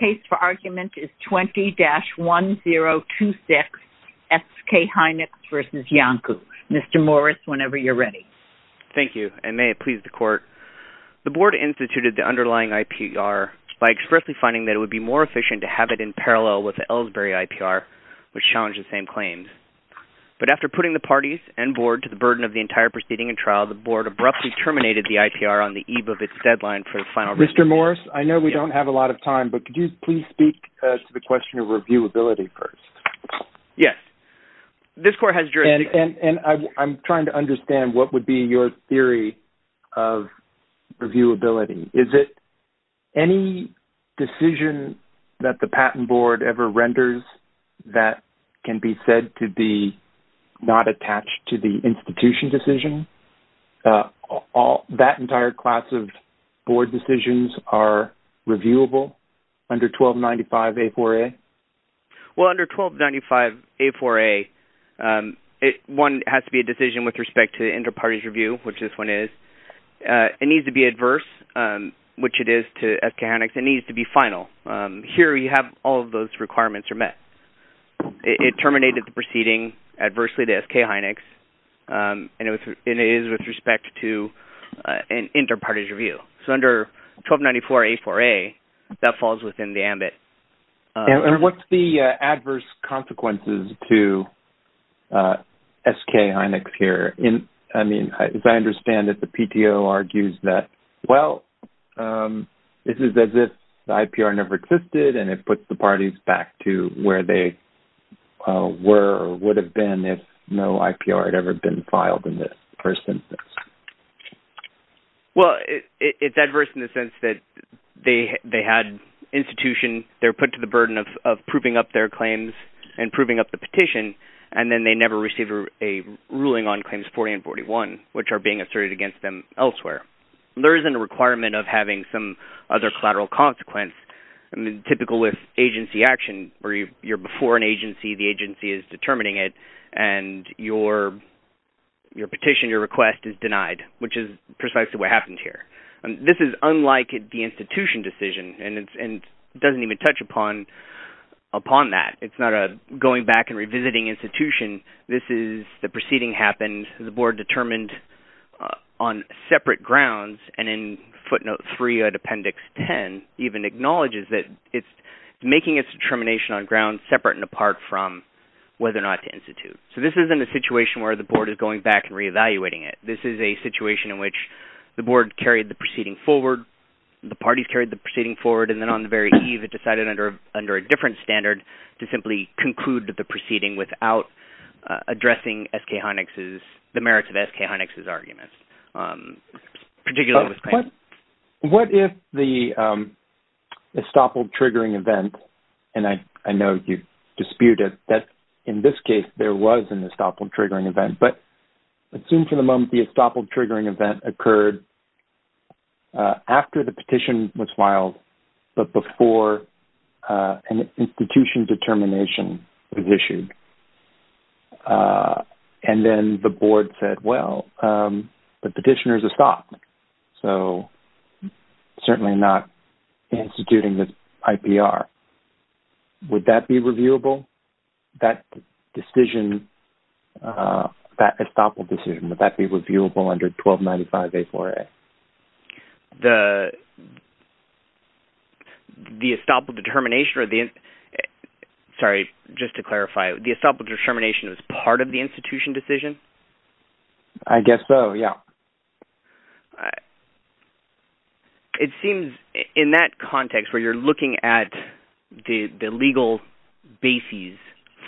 is 20-1026 S. K. Hynix v. Iancu. Mr. Morris, whenever you're ready. Thank you, and may it please the Court. The Board instituted the underlying IPR by expressly finding that it would be more efficient to have it in parallel with the Ellsbury IPR, which challenged the same claims. But after putting the parties and Board to the burden of the entire proceeding and trial, the Board abruptly terminated the IPR on the eve of its deadline for the final review. Mr. Morris, I know we don't have a lot of time, but could you please speak to the question of reviewability first? Yes. This Court has jurisdiction. And I'm trying to understand what would be your theory of reviewability. Is it any decision that the Patent Board ever renders that can be said to be not attached to the institution decision? That entire class of Board decisions are reviewable under 1295-A-4-A? Well, under 1295-A-4-A, one has to be a decision with respect to inter-parties review, which this one is. It needs to be adverse, which it is to S. K. Hynix. It needs to be final. Here you have all of those requirements are met. It terminated the proceeding adversely to S. K. Hynix, and it is with respect to an inter-parties review. So under 1294-A-4-A, that falls within the ambit. And what's the adverse consequences to S. K. Hynix here? I mean, as I understand it, the PTO argues that, well, this is as if the IPR never existed, and it puts the parties back to where they were or would have been if no IPR had ever been filed in this person. Well, it's adverse in the sense that they had institution. They're put to the burden of proving up their claims and proving up the petition, and then they never receive a ruling on Claims 40 and 41, which are being asserted against them elsewhere. There isn't a requirement of having some other collateral consequence. I mean, typical with agency action where you're before an agency, the agency is determining it, and your petition, your request is denied, which is precisely what happened here. This is unlike the institution decision, and it doesn't even touch upon that. It's not a going back and revisiting institution. This is the proceeding happened, the board determined on separate grounds, and in footnote 3 of appendix 10 even acknowledges that it's making its determination on grounds separate and apart from whether or not to institute. So this isn't a situation where the board is going back and re-evaluating it. This is a situation in which the board carried the proceeding forward, the parties carried the proceeding forward, and then on the very eve, it decided under a different standard to simply conclude the proceeding without addressing the merits of S.K. Honnix's arguments, particularly with claims. What if the estoppel triggering event, and I know you dispute it, that in this case, there was an estoppel triggering event, but assume for the moment the estoppel triggering event occurred after the petition was filed, but before an institution determination was issued, and then the board said, well, the petitioner is estoppel, so certainly not instituting the IPR. Would that be reviewable? That decision, that estoppel decision, would that be reviewable under 1295A4A? The estoppel determination, sorry, just to clarify, the estoppel determination was part of the institution decision? I guess so, yeah. It seems in that context where you're looking at the legal bases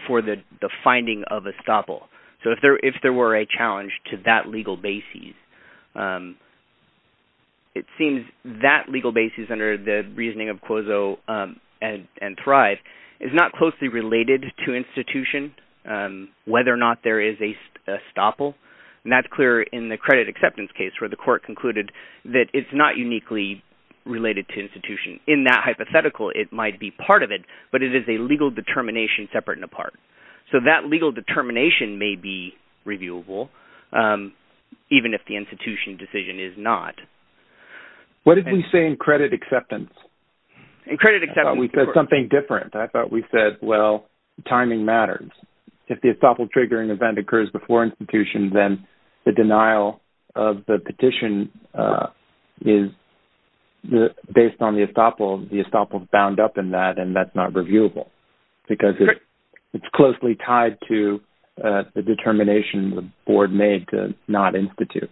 for the finding of estoppel, so if there were a challenge to that legal basis, it seems that legal basis under the reasoning of Cuozzo and Thrive is not closely related to institution, whether or not there is a estoppel, and that's clear in the credit acceptance case where the court concluded that it's not uniquely related to institution. In that hypothetical, it might be part of the institution decision, and that may be reviewable, even if the institution decision is not. What did we say in credit acceptance? In credit acceptance, of course. We said something different. I thought we said, well, timing matters. If the estoppel triggering event occurs before institution, then the denial of the petition is based on the estoppel. The estoppel is bound up in that, and that's not reviewable because it's closely tied to the determination the board made to not institute.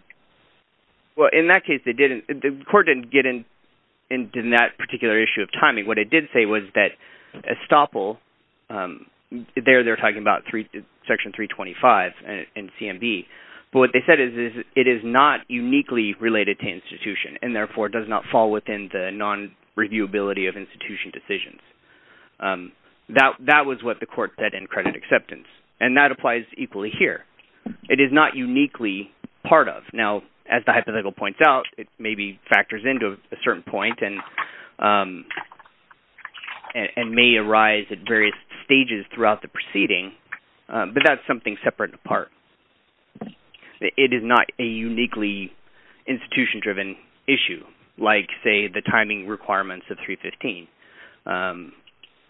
In that case, the court didn't get into that particular issue of timing. What it did say was that estoppel, there they're talking about Section 325 in CMB, but what they said is it is not uniquely related to institution, and therefore does not fall within the non-reviewability of institution decisions. That was what the court said in credit acceptance, and that applies equally here. It is not uniquely part of. Now, as the hypothetical points out, it maybe factors into a certain point and may arise at various stages throughout the proceeding, but that's something separate in part. It is not a uniquely institution-driven issue like, say, the timing requirements of 315,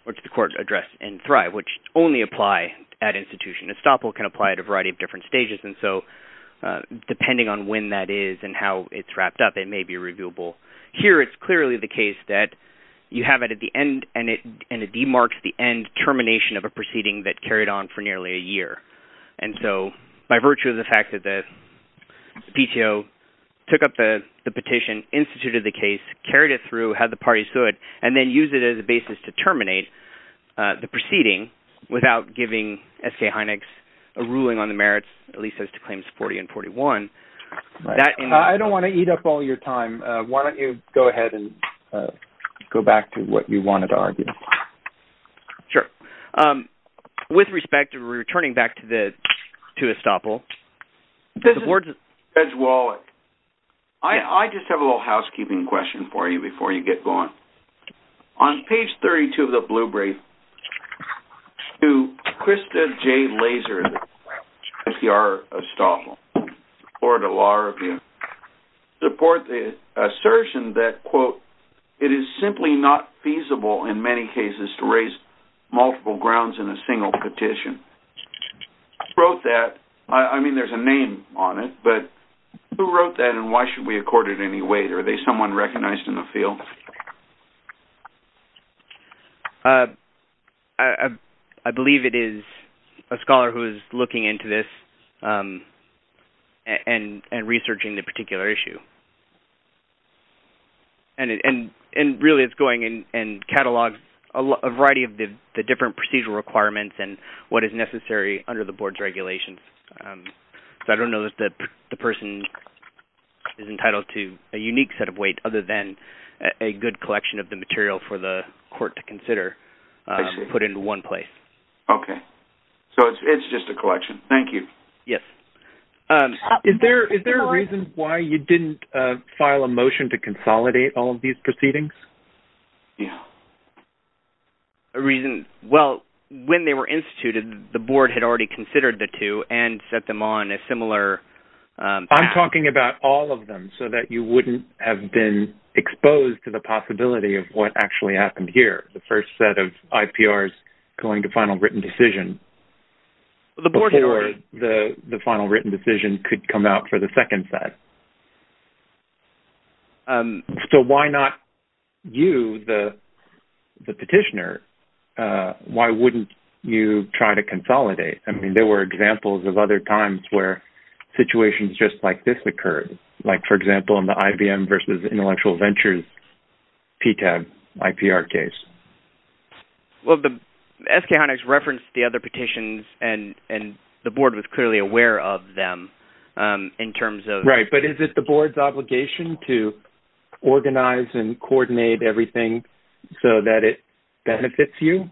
which the court addressed in Thrive, which only apply at institution. Estoppel can apply at a variety of different stages, and so depending on when that is and how it's wrapped up, it may be reviewable. Here, it's clearly the case that you have it at the end, and it demarks the end termination of a proceeding that carried on for nearly a year. By virtue of the fact that the PTO took up the petition instantly instituted the case, carried it through, had the parties do it, and then used it as a basis to terminate the proceeding without giving S.J. Heinex a ruling on the merits, at least as to Claims 40 and 41, that in- I don't want to eat up all your time. Why don't you go ahead and go back to what you wanted to argue? Sure. With respect, returning back to Estoppel, the board's- Judge Wallach, I just have a little housekeeping question for you before you get going. On page 32 of the blue brief, do Krista J. Lazer of the CPR Estoppel, Florida Law Review, support the assertion that, quote, it is simply not feasible in many cases to raise multiple grounds in a single petition? Who wrote that? I mean, there's a name on it, but who wrote that, and why should we accord it any weight? Are they someone recognized in the field? I believe it is a scholar who is looking into this and researching the particular issue. And, really, it's going and catalogs a variety of the different procedural requirements and what is necessary under the board's regulations. I don't know that the person is entitled to a unique set of weight other than a good collection of the material for the court to consider put into one place. Okay. So it's just a collection. Thank you. Yes. Is there a reason why you didn't file a motion to consolidate all of these proceedings? Yeah. A reason-well, when they were instituted, the board had already considered the two and set them on a similar- I'm talking about all of them so that you wouldn't have been exposed to the possibility of what actually happened here, the first set of IPRs going to final written decision. The board had already- Before the final written decision could come out for the second set. So why not you, the petitioner, why wouldn't you try to consolidate? I mean, there were examples of other times where situations just like this occurred, like, for example, in the IBM versus Intellectual Ventures PTAB IPR case. Well, the-SK Hynix referenced the other petitions, and the board was clearly aware of them in terms of- Right. But is it the board's obligation to organize and coordinate everything so that it benefits you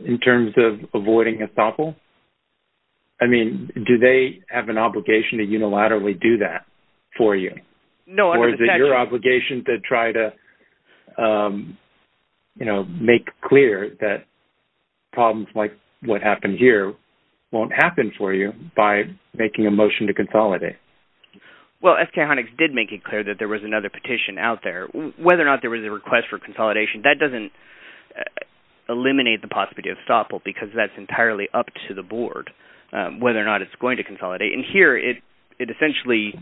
in terms of avoiding a topple? I mean, do they have an obligation to unilaterally do that for you? No, under the statute- Make clear that problems like what happened here won't happen for you by making a motion to consolidate. Well, SK Hynix did make it clear that there was another petition out there. Whether or not there was a request for consolidation, that doesn't eliminate the possibility of topple because that's entirely up to the board, whether or not it's going to consolidate. And here, it essentially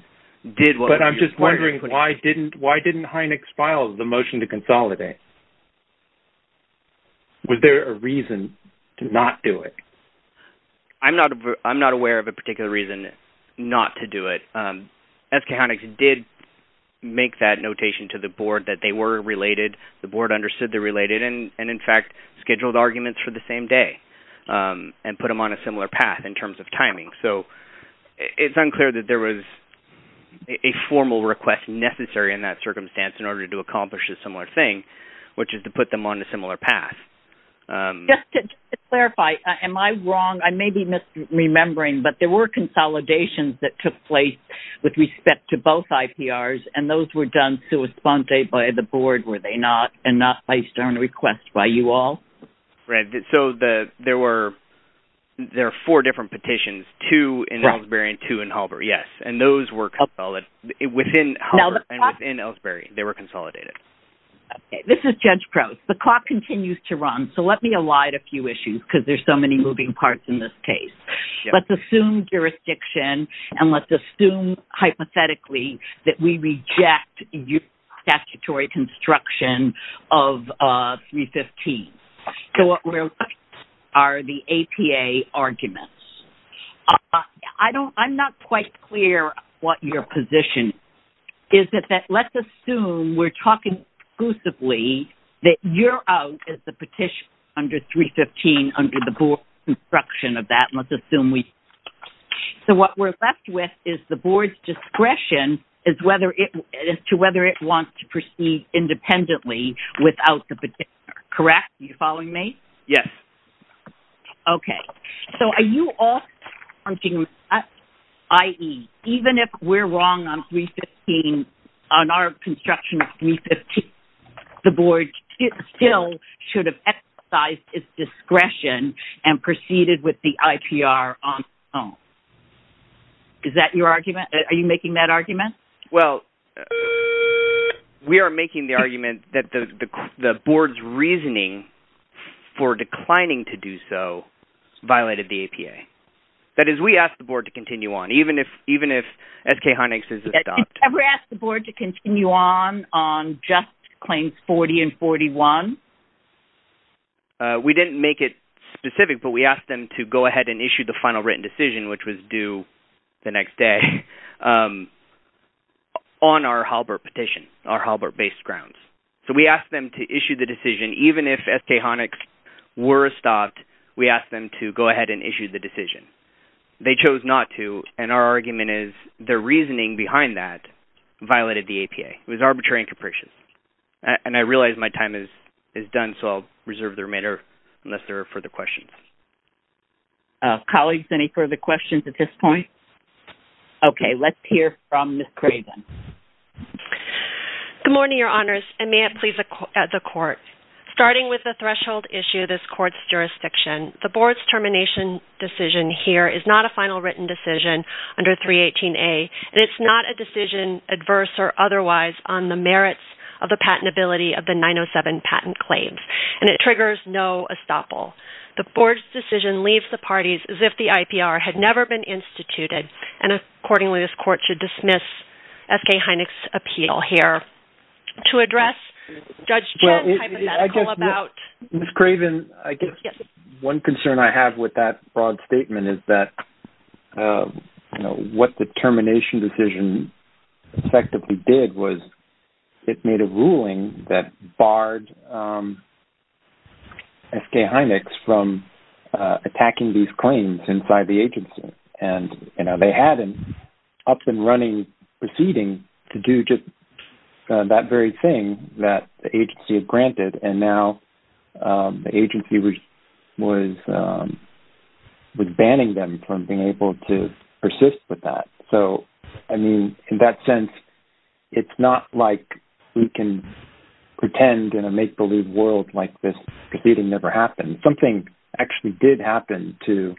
did what- But I'm just wondering, why didn't Hynix file the motion to consolidate? Was there a reason to not do it? I'm not aware of a particular reason not to do it. SK Hynix did make that notation to the board that they were related, the board understood they're related, and, in fact, scheduled arguments for the same day and put them on a similar path in terms of timing. So, it's unclear that there was a formal request necessary in that circumstance in order to accomplish a similar thing, which is to put them on a similar path. Just to clarify, am I wrong? I may be misremembering, but there were consolidations that took place with respect to both IPRs, and those were done sui sponte by the board, were they not? And not placed on request by you all? Right. So, there were four different petitions, two in Ellsbury and two in Holbrook, yes. And those were within Holbrook and within Ellsbury. They were consolidated. This is Judge Prowse. The clock continues to run, so let me elide a few issues, because there's so many moving parts in this case. Let's assume jurisdiction, and let's assume hypothetically that we reject your statutory construction of 315. So, what we're left with are the APA arguments. I'm not quite clear what your position is, is that let's assume we're talking exclusively that you're out as the petitioner under 315 under the board construction of that. So, what we're left with is the board's discretion as to whether it wants to proceed independently without the petitioner, correct? Are you following me? Yes. Okay. So, are you all, i.e., even if we're wrong on 315, on our construction of 315, the board still should have exercised its discretion and proceeded with the IPR on its own. Is that your argument? Are you making that argument? Well, we are making the argument that the board's reasoning for declining to do so violated the APA. That is, we asked the board to continue on, even if SK Hynex is adopted. Did you ever ask the board to continue on, on just claims 40 and 41? We didn't make it specific, but we asked them to go ahead and issue the final written decision, which was due the next day, on our Halbert petition, our Halbert-based grounds. So, we asked them to issue the decision, even if SK Hynex were adopted. We asked them to go ahead and issue the decision. They chose not to, and our argument is their reasoning behind that violated the APA. It was arbitrary and capricious. And I realize my time is done, so I'll reserve the remainder unless there are further questions. Colleagues, any further questions at this point? Okay. Let's hear from Ms. Craven. Good morning, Your Honors, and may it please the Court. Starting with the threshold issue, this Court's jurisdiction, the Board's termination decision here is not a final written decision under 318A, and it's not a decision, adverse or otherwise, on the merits of the patentability of the 907 patent claims. And it triggers no estoppel. The Board's decision leaves the parties as if the IPR had never been instituted, and, accordingly, this Court should dismiss SK Hynex's appeal here. To address Judge Chen's hypothetical about... Ms. Craven, I guess one concern I have with that broad statement is that, you know, what the termination decision effectively did was it made a ruling that barred SK Hynex from attacking these claims inside the agency. And, you know, they had an up-and-running proceeding to do just that very thing that the agency had granted, and now the agency was banning them from being able to persist with that. So, I mean, in that sense, it's not like we can pretend in a make-believe world like this proceeding never happened. Something actually did happen to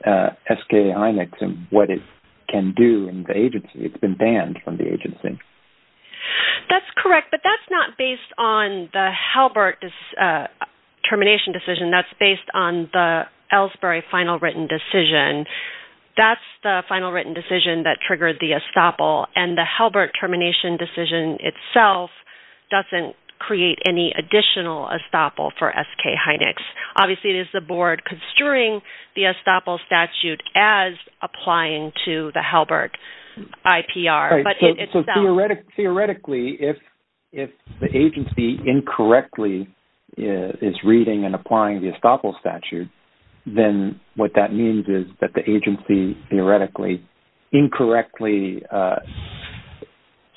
SK Hynex and what it can do in the agency. It's been banned from the agency. That's correct, but that's not based on the Halbert termination decision. That's based on the Ellsbury final written decision. That's the final written decision that triggered the estoppel, and the Halbert termination decision itself doesn't create any additional estoppel for SK Hynex. Obviously, it is the board construing the estoppel statute as applying to the Halbert IPR. So, theoretically, if the agency incorrectly is reading and applying the estoppel statute, then what that means is that the agency theoretically incorrectly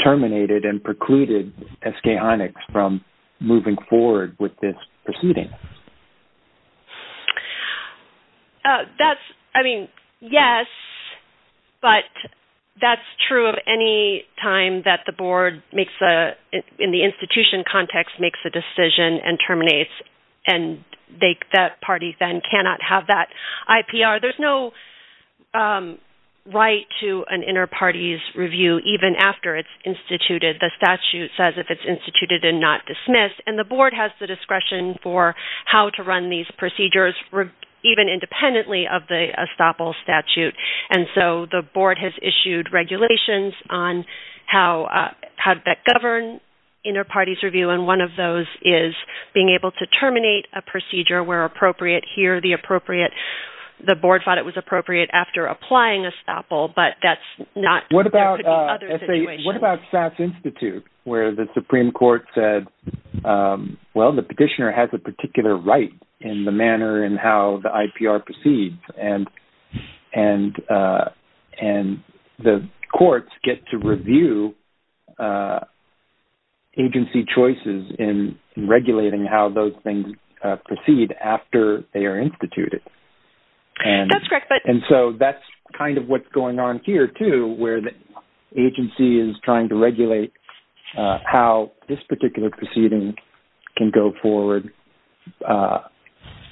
terminated and precluded SK Hynex from moving forward with this proceeding. That's, I mean, yes, but that's true of any time that the board makes a, in the institution context, makes a decision and terminates, and that party then cannot have that IPR. There's no right to an inter-parties review even after it's instituted. The statute says if it's instituted and not dismissed, and the board has the discretion for how to run these procedures even independently of the estoppel statute. And so, the board has issued regulations on how that govern inter-parties review, and one of those is being able to terminate a procedure where appropriate. Here, the appropriate, the board thought it was appropriate after applying estoppel, but that's not, there could be other situations. What about SAS Institute, where the Supreme Court said, well, the petitioner has a particular right in the manner in how the IPR proceeds, and the courts get to review agency choices in regulating how those things proceed after they are instituted. That's correct. And so, that's kind of what's going on here, too, where the agency is trying to regulate how this particular proceeding can go forward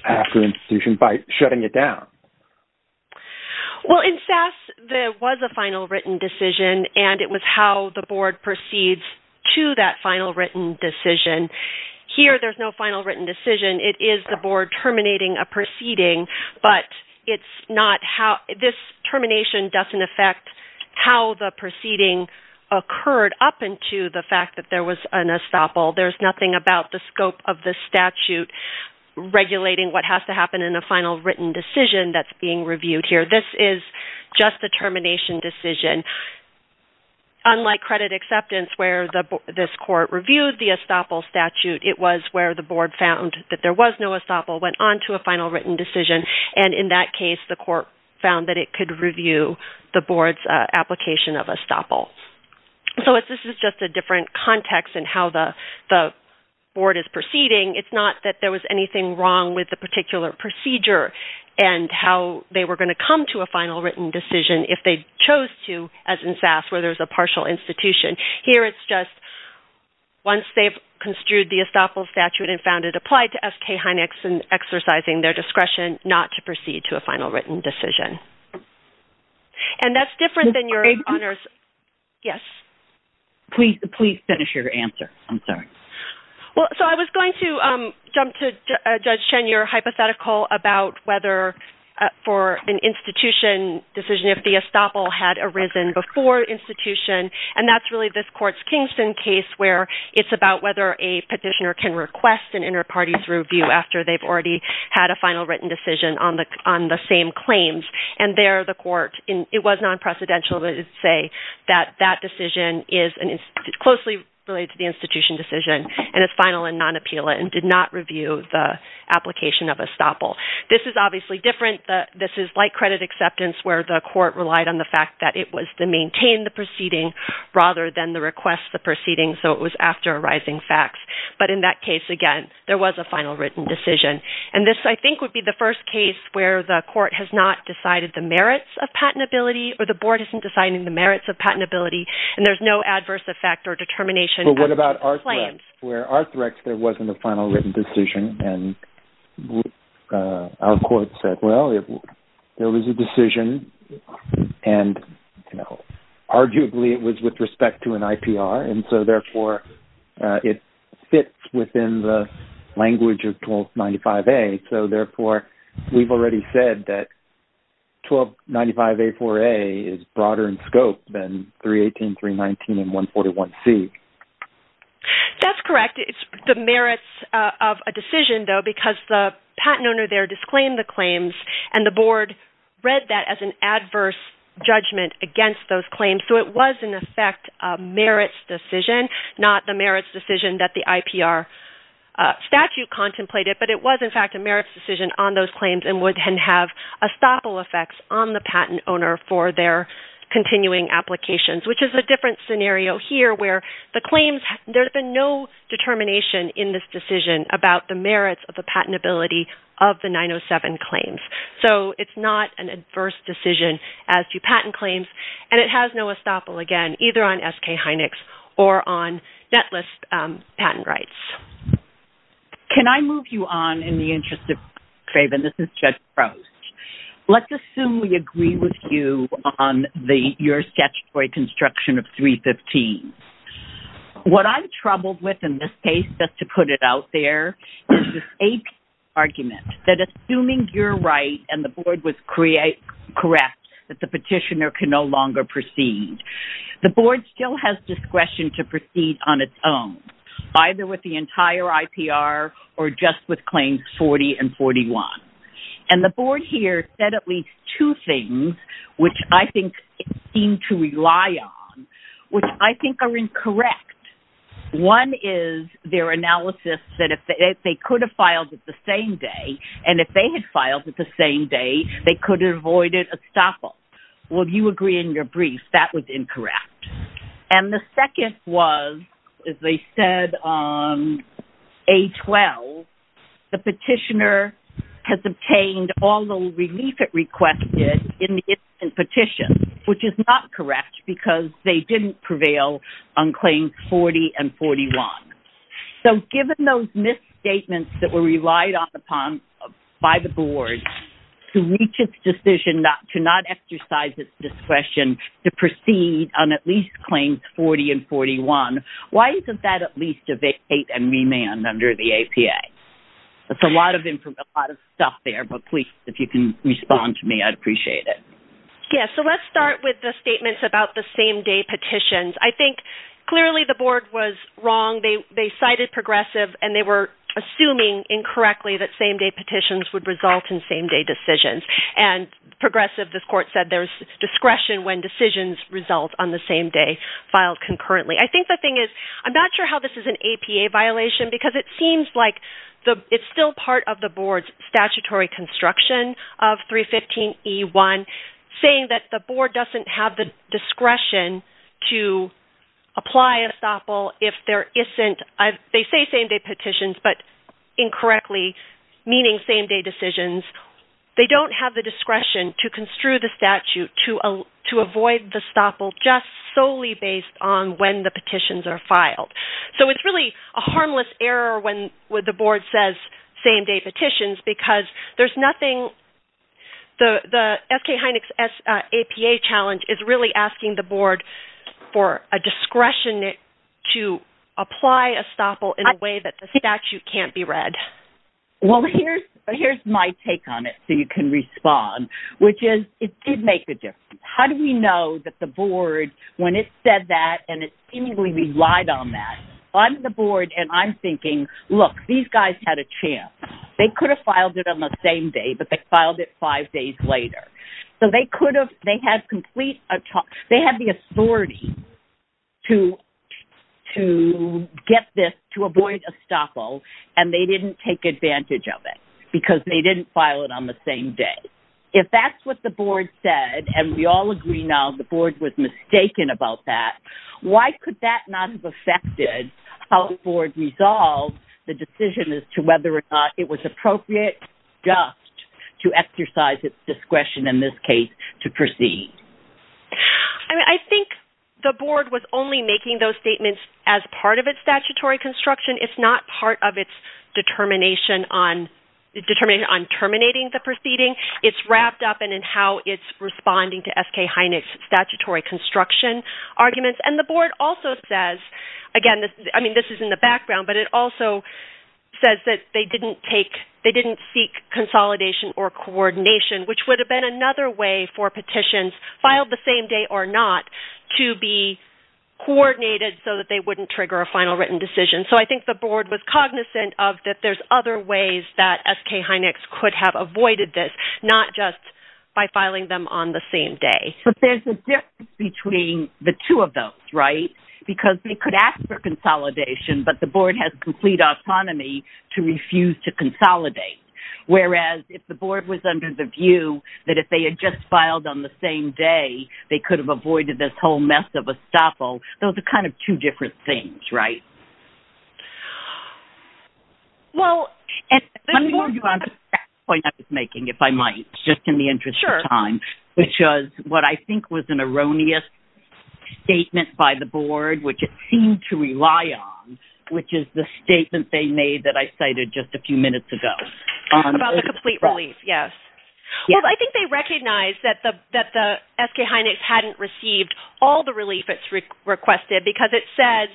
after institution by shutting it down. Well, in SAS, there was a final written decision, and it was how the board proceeds to that final written decision. Here, there's no final written decision. It is the board terminating a proceeding, but it's not how, this termination doesn't affect how the proceeding occurred up into the fact that there was an estoppel. There's nothing about the scope of the statute regulating what has to happen in a final written decision that's being reviewed here. This is just a termination decision. Unlike credit acceptance, where this court reviewed the estoppel statute, it was where the board found that there was no estoppel, went on to a final written decision, and in that case, the court found that it could review the board's application of estoppel. So, this is just a different context in how the board is proceeding. It's not that there was anything wrong with the particular procedure and how they were going to come to a final written decision if they chose to, as in SAS, where there's a partial institution. Here, it's just once they've construed the estoppel statute and found it applied to SK Hynex and exercising their discretion not to proceed to a final written decision. And that's different than your honors. Yes? Please finish your answer. I'm sorry. Well, so I was going to jump to Judge Chen, your hypothetical about whether for an institution decision, if the estoppel had arisen before institution, and that's really this court's Kingston case, where it's about whether a petitioner can request an inter-parties review after they've already had a final written decision on the same claims. And there, the court, it was non-precedential to say that that decision is closely related to the institution decision and is final and non-appeal and did not review the application of estoppel. This is obviously different. This is like credit acceptance, where the court relied on the fact that it was to maintain the proceeding rather than to request the proceeding, so it was after arising facts. But in that case, again, there was a final written decision. And this, I think, would be the first case where the court has not decided the merits of patentability or the board isn't deciding the merits of patentability, and there's no adverse effect or determination. But what about Arthrex, where Arthrex, there wasn't a final written decision, and our court said, well, there was a decision, and arguably it was with respect to an IPR, and so therefore it fits within the language of 1295A, so therefore we've already said that 1295A4A is broader in scope than 318, 319, and 141C. That's correct. It's the merits of a decision, though, because the patent owner there disclaimed the claims, and the board read that as an adverse judgment against those claims, so it was, in effect, a merits decision, not the merits decision that the IPR statute contemplated, but it was, in fact, a merits decision on those claims and would then have estoppel effects on the patent owner for their continuing applications, which is a different scenario here where there's been no determination in this decision about the merits of the patentability of the 907 claims. So it's not an adverse decision as to patent claims, and it has no estoppel, again, either on SK Hynix or on Netlist patent rights. Can I move you on in the interest of time? This is Judge Prost. Let's assume we agree with you on your statutory construction of 315. What I'm troubled with in this case, just to put it out there, is this APR argument that assuming you're right and the board was correct that the petitioner can no longer proceed, the board still has discretion to proceed on its own, either with the entire IPR or just with claims 40 and 41. And the board here said at least two things, which I think it seemed to rely on, which I think are incorrect. One is their analysis that if they could have filed it the same day, and if they had filed it the same day, they could have avoided estoppel. Would you agree in your brief that was incorrect? And the second was, as they said on A12, the petitioner has obtained all the relief it requested in the instant petition, which is not correct because they didn't prevail on claims 40 and 41. So given those misstatements that were relied upon by the board to reach its decision to not exercise its discretion to proceed on at least claims 40 and 41, why isn't that at least a vacate and remand under the APA? That's a lot of stuff there, but please, if you can respond to me, I'd appreciate it. Yes, so let's start with the statements about the same-day petitions. I think clearly the board was wrong. They cited progressive, and they were assuming incorrectly that same-day petitions would result in same-day decisions. And progressive, this court said, there's discretion when decisions result on the same day filed concurrently. I think the thing is, I'm not sure how this is an APA violation because it seems like it's still part of the board's statutory construction of 315E1, saying that the board doesn't have the discretion to apply estoppel if there isn't. They say same-day petitions, but incorrectly meaning same-day decisions. They don't have the discretion to construe the statute to avoid the estoppel just solely based on when the petitions are filed. So it's really a harmless error when the board says same-day petitions because there's nothing the FK Heineck's APA challenge is really asking the board for a discretion to apply estoppel in a way that the statute can't be read. Well, here's my take on it so you can respond, which is it did make a difference. How do we know that the board, when it said that and it seemingly relied on that, I'm the board and I'm thinking, look, these guys had a chance. They could have filed it on the same day, but they filed it five days later. So they could have – they had complete – they had the authority to get this, to avoid estoppel, and they didn't take advantage of it because they didn't file it on the same day. If that's what the board said, and we all agree now the board was mistaken about that, why could that not have affected how the board resolved the decision as to whether or not it was appropriate just to exercise its discretion, in this case, to proceed? I mean, I think the board was only making those statements as part of its statutory construction. It's not part of its determination on terminating the proceeding. It's wrapped up in how it's responding to SK Heineck's statutory construction arguments. And the board also says – again, I mean, this is in the background, but it also says that they didn't take – they didn't seek consolidation or coordination, which would have been another way for petitions filed the same day or not to be coordinated so that they wouldn't trigger a final written decision. So I think the board was cognizant of that there's other ways that SK Heineck's could have avoided this, not just by filing them on the same day. But there's a difference between the two of those, right? Because they could ask for consolidation, but the board has complete autonomy to refuse to consolidate. Whereas, if the board was under the view that if they had just filed on the same day, they could have avoided this whole mess of estoppel, those are kind of two different things, right? Well, there's more to that point I was making, if I might, just in the interest of time. Sure. Which was what I think was an erroneous statement by the board, which it seemed to rely on, which is the statement they made that I cited just a few minutes ago. About the complete relief, yes. Well, I think they recognized that the SK Heineck's hadn't received all the relief it's requested because it says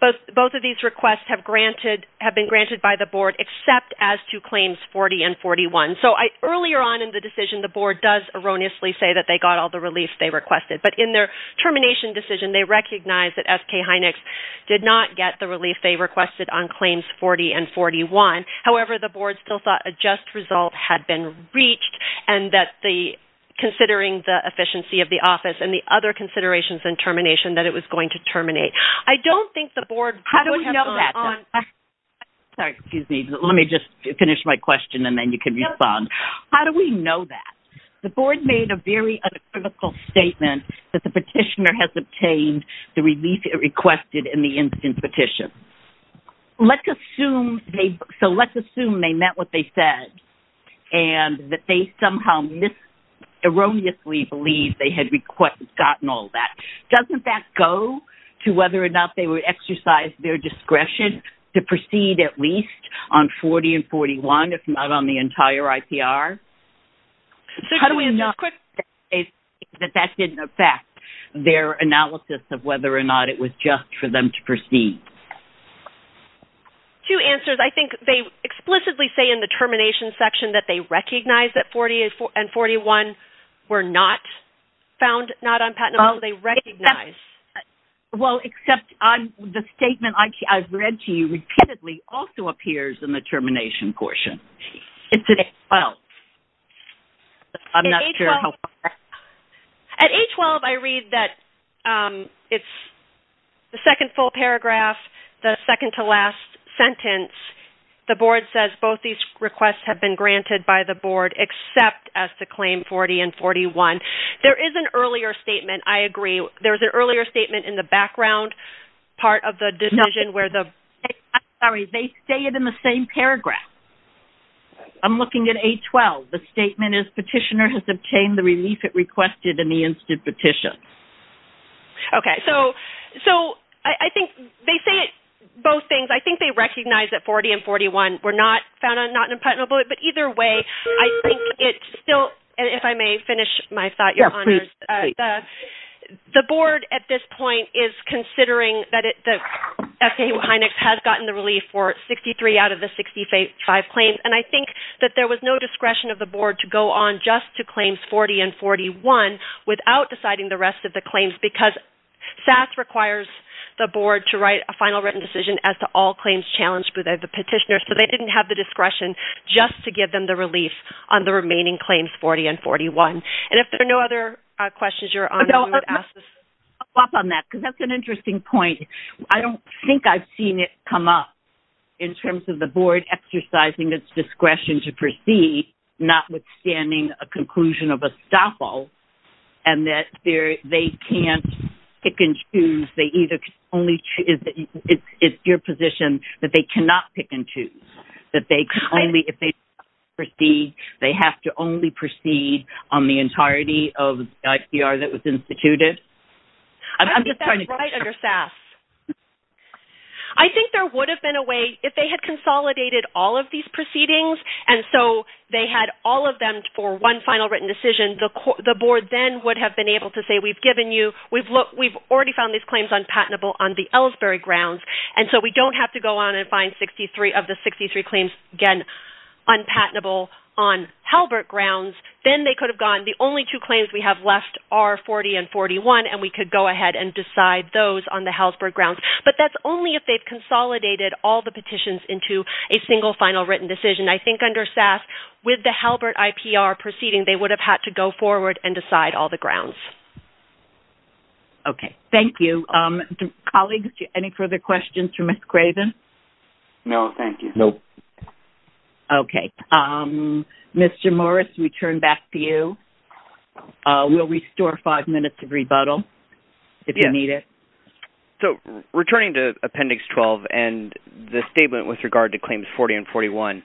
both of these requests have been granted by the board except as to claims 40 and 41. So earlier on in the decision, the board does erroneously say that they got all the relief they requested. But in their termination decision, they recognized that SK Heineck's did not get the relief they requested on claims 40 and 41. However, the board still thought a just result had been reached and that considering the efficiency of the office and the other considerations and termination, that it was going to terminate. I don't think the board would have gone on. How do we know that? Sorry, excuse me. Let me just finish my question and then you can respond. How do we know that? The board made a very uncritical statement that the petitioner has obtained the relief it requested in the instance petition. So let's assume they meant what they said and that they somehow erroneously believe they had gotten all that. Doesn't that go to whether or not they would exercise their discretion to proceed at least on 40 and 41, if not on the entire IPR? How do we know that that didn't affect their analysis of whether or not it was just for them to proceed? Two answers. I think they explicitly say in the termination section that they recognize that 40 and 41 were not found not on patent. Well, they recognize. Well, except the statement I've read to you repeatedly also appears in the termination portion. It's at 812. I'm not sure how far back. At 812, I read that it's the second full paragraph, the second to last sentence. The board says both these requests have been granted by the board except as to claim 40 and 41. There is an earlier statement, I agree. There is an earlier statement in the background part of the decision where the ‑‑ I'm sorry. They say it in the same paragraph. I'm looking at 812. The statement is petitioner has obtained the relief it requested in the instance petition. Okay. So I think they say it, both things. I think they recognize that 40 and 41 were not found not on patent. But either way, I think it still, if I may finish my thought, Your Honors. Yeah, please. The board at this point is considering that the FAA‑HINAC has gotten the relief for 63 out of the 65 claims. And I think that there was no discretion of the board to go on just to claims 40 and 41 without deciding the rest of the claims because SAS requires the board to write a final written decision as to all claims challenged by the petitioner. So they didn't have the discretion just to give them the relief on the remaining claims 40 and 41. And if there are no other questions, Your Honors, I'm going to ask this. I'll follow up on that because that's an interesting point. I don't think I've seen it come up in terms of the board exercising its discretion to proceed, notwithstanding a conclusion of estoppel, and that they can't pick and choose. It's your position that they cannot pick and choose. That if they proceed, they have to only proceed on the entirety of the ICR that was instituted? I think that's right under SAS. I think there would have been a way, if they had consolidated all of these proceedings and so they had all of them for one final written decision, the board then would have been able to say, we've given you, we've already found these claims unpatentable on the Ellsbury grounds, and so we don't have to go on and find 63 of the 63 claims, again, unpatentable on Halbert grounds. Then they could have gone, the only two claims we have left are 40 and 41, and we could go ahead and decide those on the Halsburg grounds. But that's only if they've consolidated all the petitions into a single final written decision. I think under SAS, with the Halbert IPR proceeding, they would have had to go forward and decide all the grounds. Okay. Thank you. Colleagues, any further questions for Ms. Craven? No, thank you. No. Okay. Mr. Morris, we turn back to you. We'll restore five minutes of rebuttal if you need it. Returning to Appendix 12 and the statement with regard to claims 40 and 41,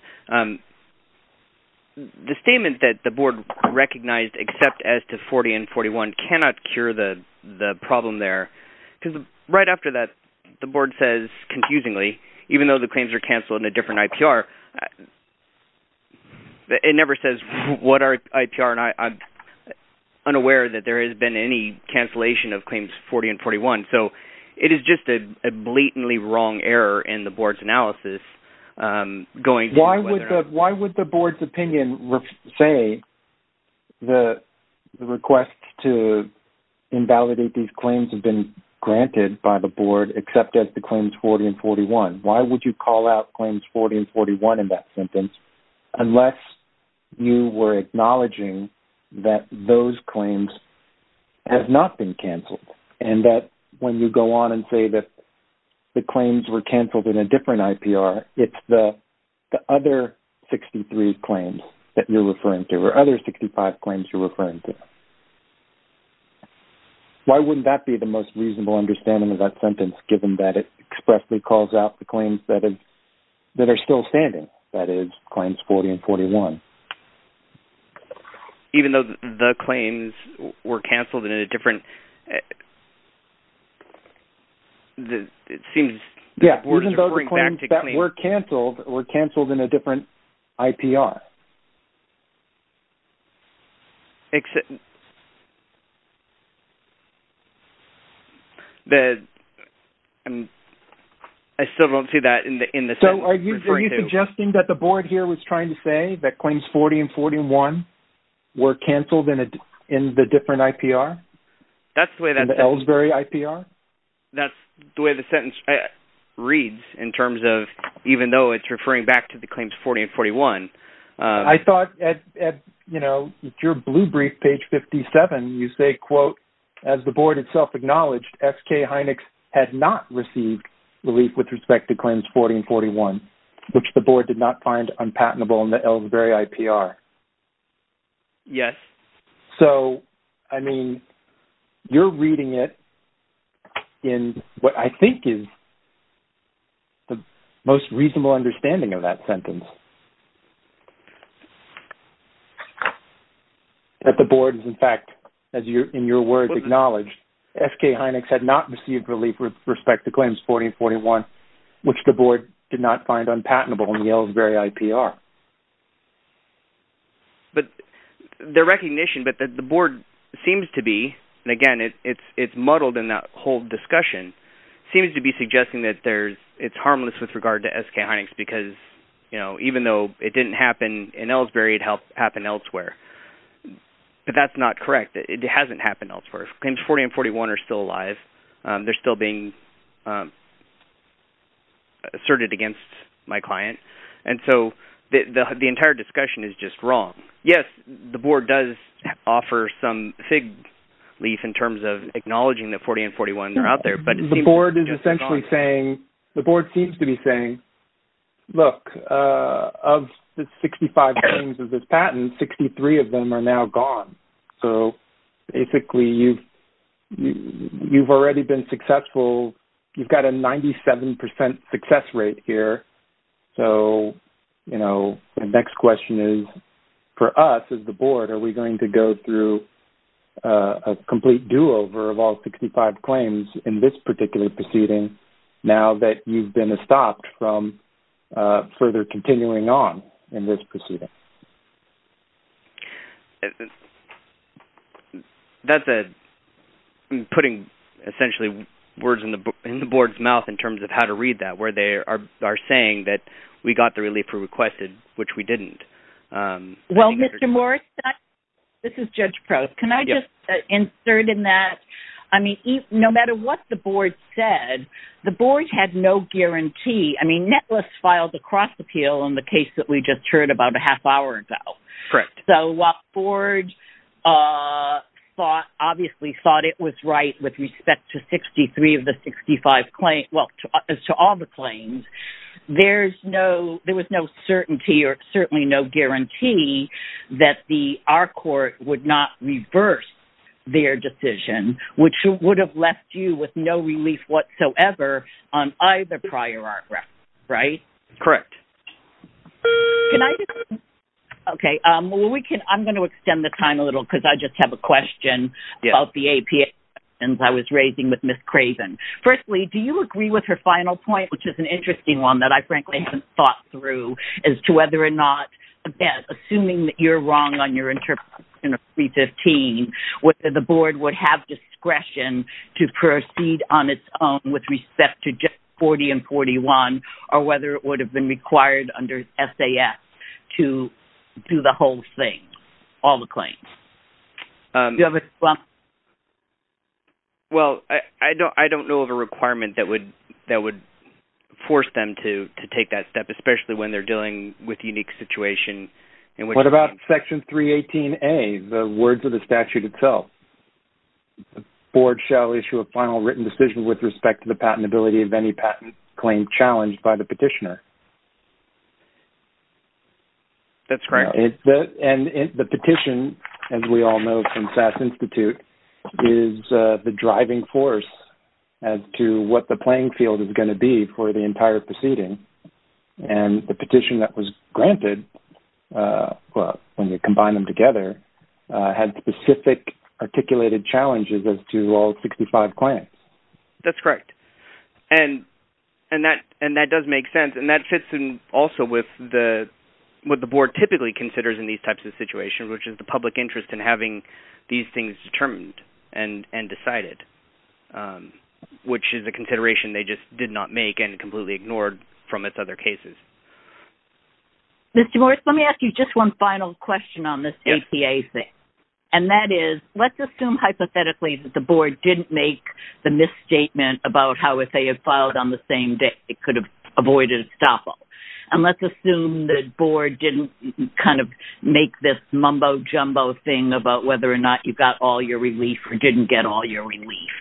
the statement that the board recognized except as to 40 and 41 cannot cure the problem there. Because right after that, the board says confusingly, even though the claims are canceled in a different IPR, it never says what are IPR, and I'm unaware that there has been any cancellation of claims 40 and 41. So it is just a blatantly wrong error in the board's analysis. Why would the board's opinion say the request to invalidate these claims has been granted by the board except as to claims 40 and 41? Why would you call out claims 40 and 41 in that sentence unless you were acknowledging and that when you go on and say that the claims were canceled in a different IPR, it's the other 63 claims that you're referring to or other 65 claims you're referring to? Why wouldn't that be the most reasonable understanding of that sentence, given that it expressly calls out the claims that are still standing, that is, claims 40 and 41? Even though the claims were canceled in a different... Yes, even though the claims that were canceled were canceled in a different IPR. I still don't see that in the sentence you're referring to. So are you suggesting that the board here was trying to say that claims 40 and 41 were canceled in the different IPR, in the Ellsbury IPR? That's the way the sentence reads in terms of even though it's referring back to the claims 40 and 41. I thought at your blue brief, page 57, you say, quote, As the board itself acknowledged, S.K. Heinex had not received relief with respect to claims 40 and 41, which the board did not find unpatentable in the Ellsbury IPR. Yes. So, I mean, you're reading it in what I think is the most reasonable understanding of that sentence. That the board, in fact, as in your words acknowledged, S.K. Heinex had not received relief with respect to claims 40 and 41, which the board did not find unpatentable in the Ellsbury IPR. But the recognition that the board seems to be, and again, it's muddled in that whole discussion, seems to be suggesting that it's harmless with regard to S.K. Heinex because even though it didn't happen in Ellsbury, it happened elsewhere. But that's not correct. It hasn't happened elsewhere. Claims 40 and 41 are still alive. They're still being asserted against my client. And so the entire discussion is just wrong. Yes, the board does offer some fig leaf in terms of acknowledging that 40 and 41 are out there. The board is essentially saying, the board seems to be saying, look, of the 65 claims of this patent, 63 of them are now gone. So, basically, you've already been successful. You've got a 97% success rate here. So, you know, the next question is, for us as the board, are we going to go through a complete do-over of all 65 claims in this particular proceeding now that you've been stopped from further continuing on in this proceeding? That's putting, essentially, words in the board's mouth in terms of how to read that, where they are saying that we got the relief we requested, which we didn't. Well, Mr. Morris, this is Judge Probst. Can I just insert in that, I mean, no matter what the board said, the board had no guarantee. I mean, Netless filed a cross-appeal on the case that we just heard about a half hour ago. Correct. So while the board obviously thought it was right with respect to 63 of the 65 claims, well, as to all the claims, there was no certainty or certainly no guarantee that our court would not reverse their decision, which would have left you with no relief whatsoever on either prior art ref, right? Correct. Can I just, okay, well, I'm going to extend the time a little because I just have a question about the APA, and I was raising with Ms. Craven. Firstly, do you agree with her final point, which is an interesting one that I, frankly, as to whether or not, again, assuming that you're wrong on your interpretation of 315, whether the board would have discretion to proceed on its own with respect to just 40 and 41 or whether it would have been required under SAS to do the whole thing, all the claims? Do you have a response? Well, I don't know of a requirement that would force them to take that step, especially when they're dealing with a unique situation. What about Section 318A, the words of the statute itself? The board shall issue a final written decision with respect to the patentability of any patent claim challenged by the petitioner. That's correct. And the petition, as we all know from SAS Institute, is the driving force as to what the playing field is going to be for the entire proceeding. And the petition that was granted, when you combine them together, had specific articulated challenges as to all 65 claims. That's correct. And that does make sense. And that fits in also with what the board typically considers in these types of situations, which is the public interest in having these things determined and decided, which is a consideration they just did not make and completely ignored from its other cases. Mr. Morris, let me ask you just one final question on this APA thing. And that is, let's assume hypothetically that the board didn't make the misstatement about how, if they had filed on the same day, it could have avoided a stop-all. And let's assume the board didn't kind of make this mumbo-jumbo thing about whether or not you got all your relief or didn't get all your relief.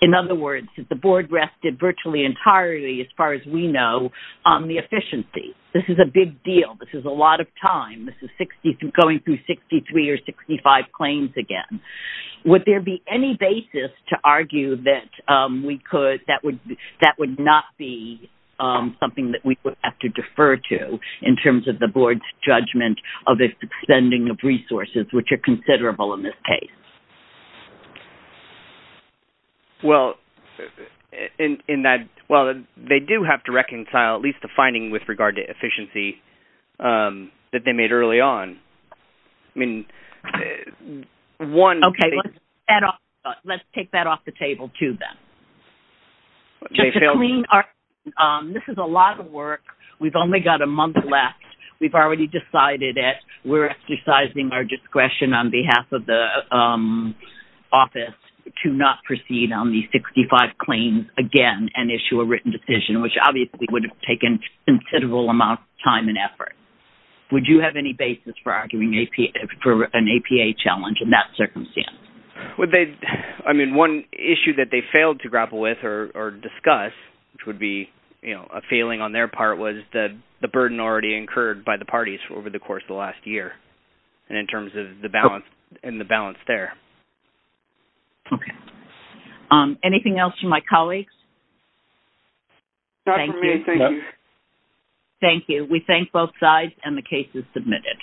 In other words, if the board rested virtually entirely, as far as we know, on the efficiency, this is a big deal, this is a lot of time, this is going through 63 or 65 claims again. Would there be any basis to argue that that would not be something that we would have to defer to in terms of the board's judgment of its spending of resources, which are considerable in this case? Well, they do have to reconcile at least the finding with regard to efficiency that they made early on. I mean, one... Okay, let's take that off the table, too, then. This is a lot of work. We've only got a month left. We've already decided that we're exercising our discretion on behalf of the office to not proceed on these 65 claims again and issue a written decision, but would you have any basis for arguing for an APA challenge in that circumstance? I mean, one issue that they failed to grapple with or discuss, which would be a failing on their part, was the burden already incurred by the parties over the course of the last year and in terms of the balance there. Okay. Anything else from my colleagues? Not from me. Thank you. Thank you. We thank both sides, and the case is submitted.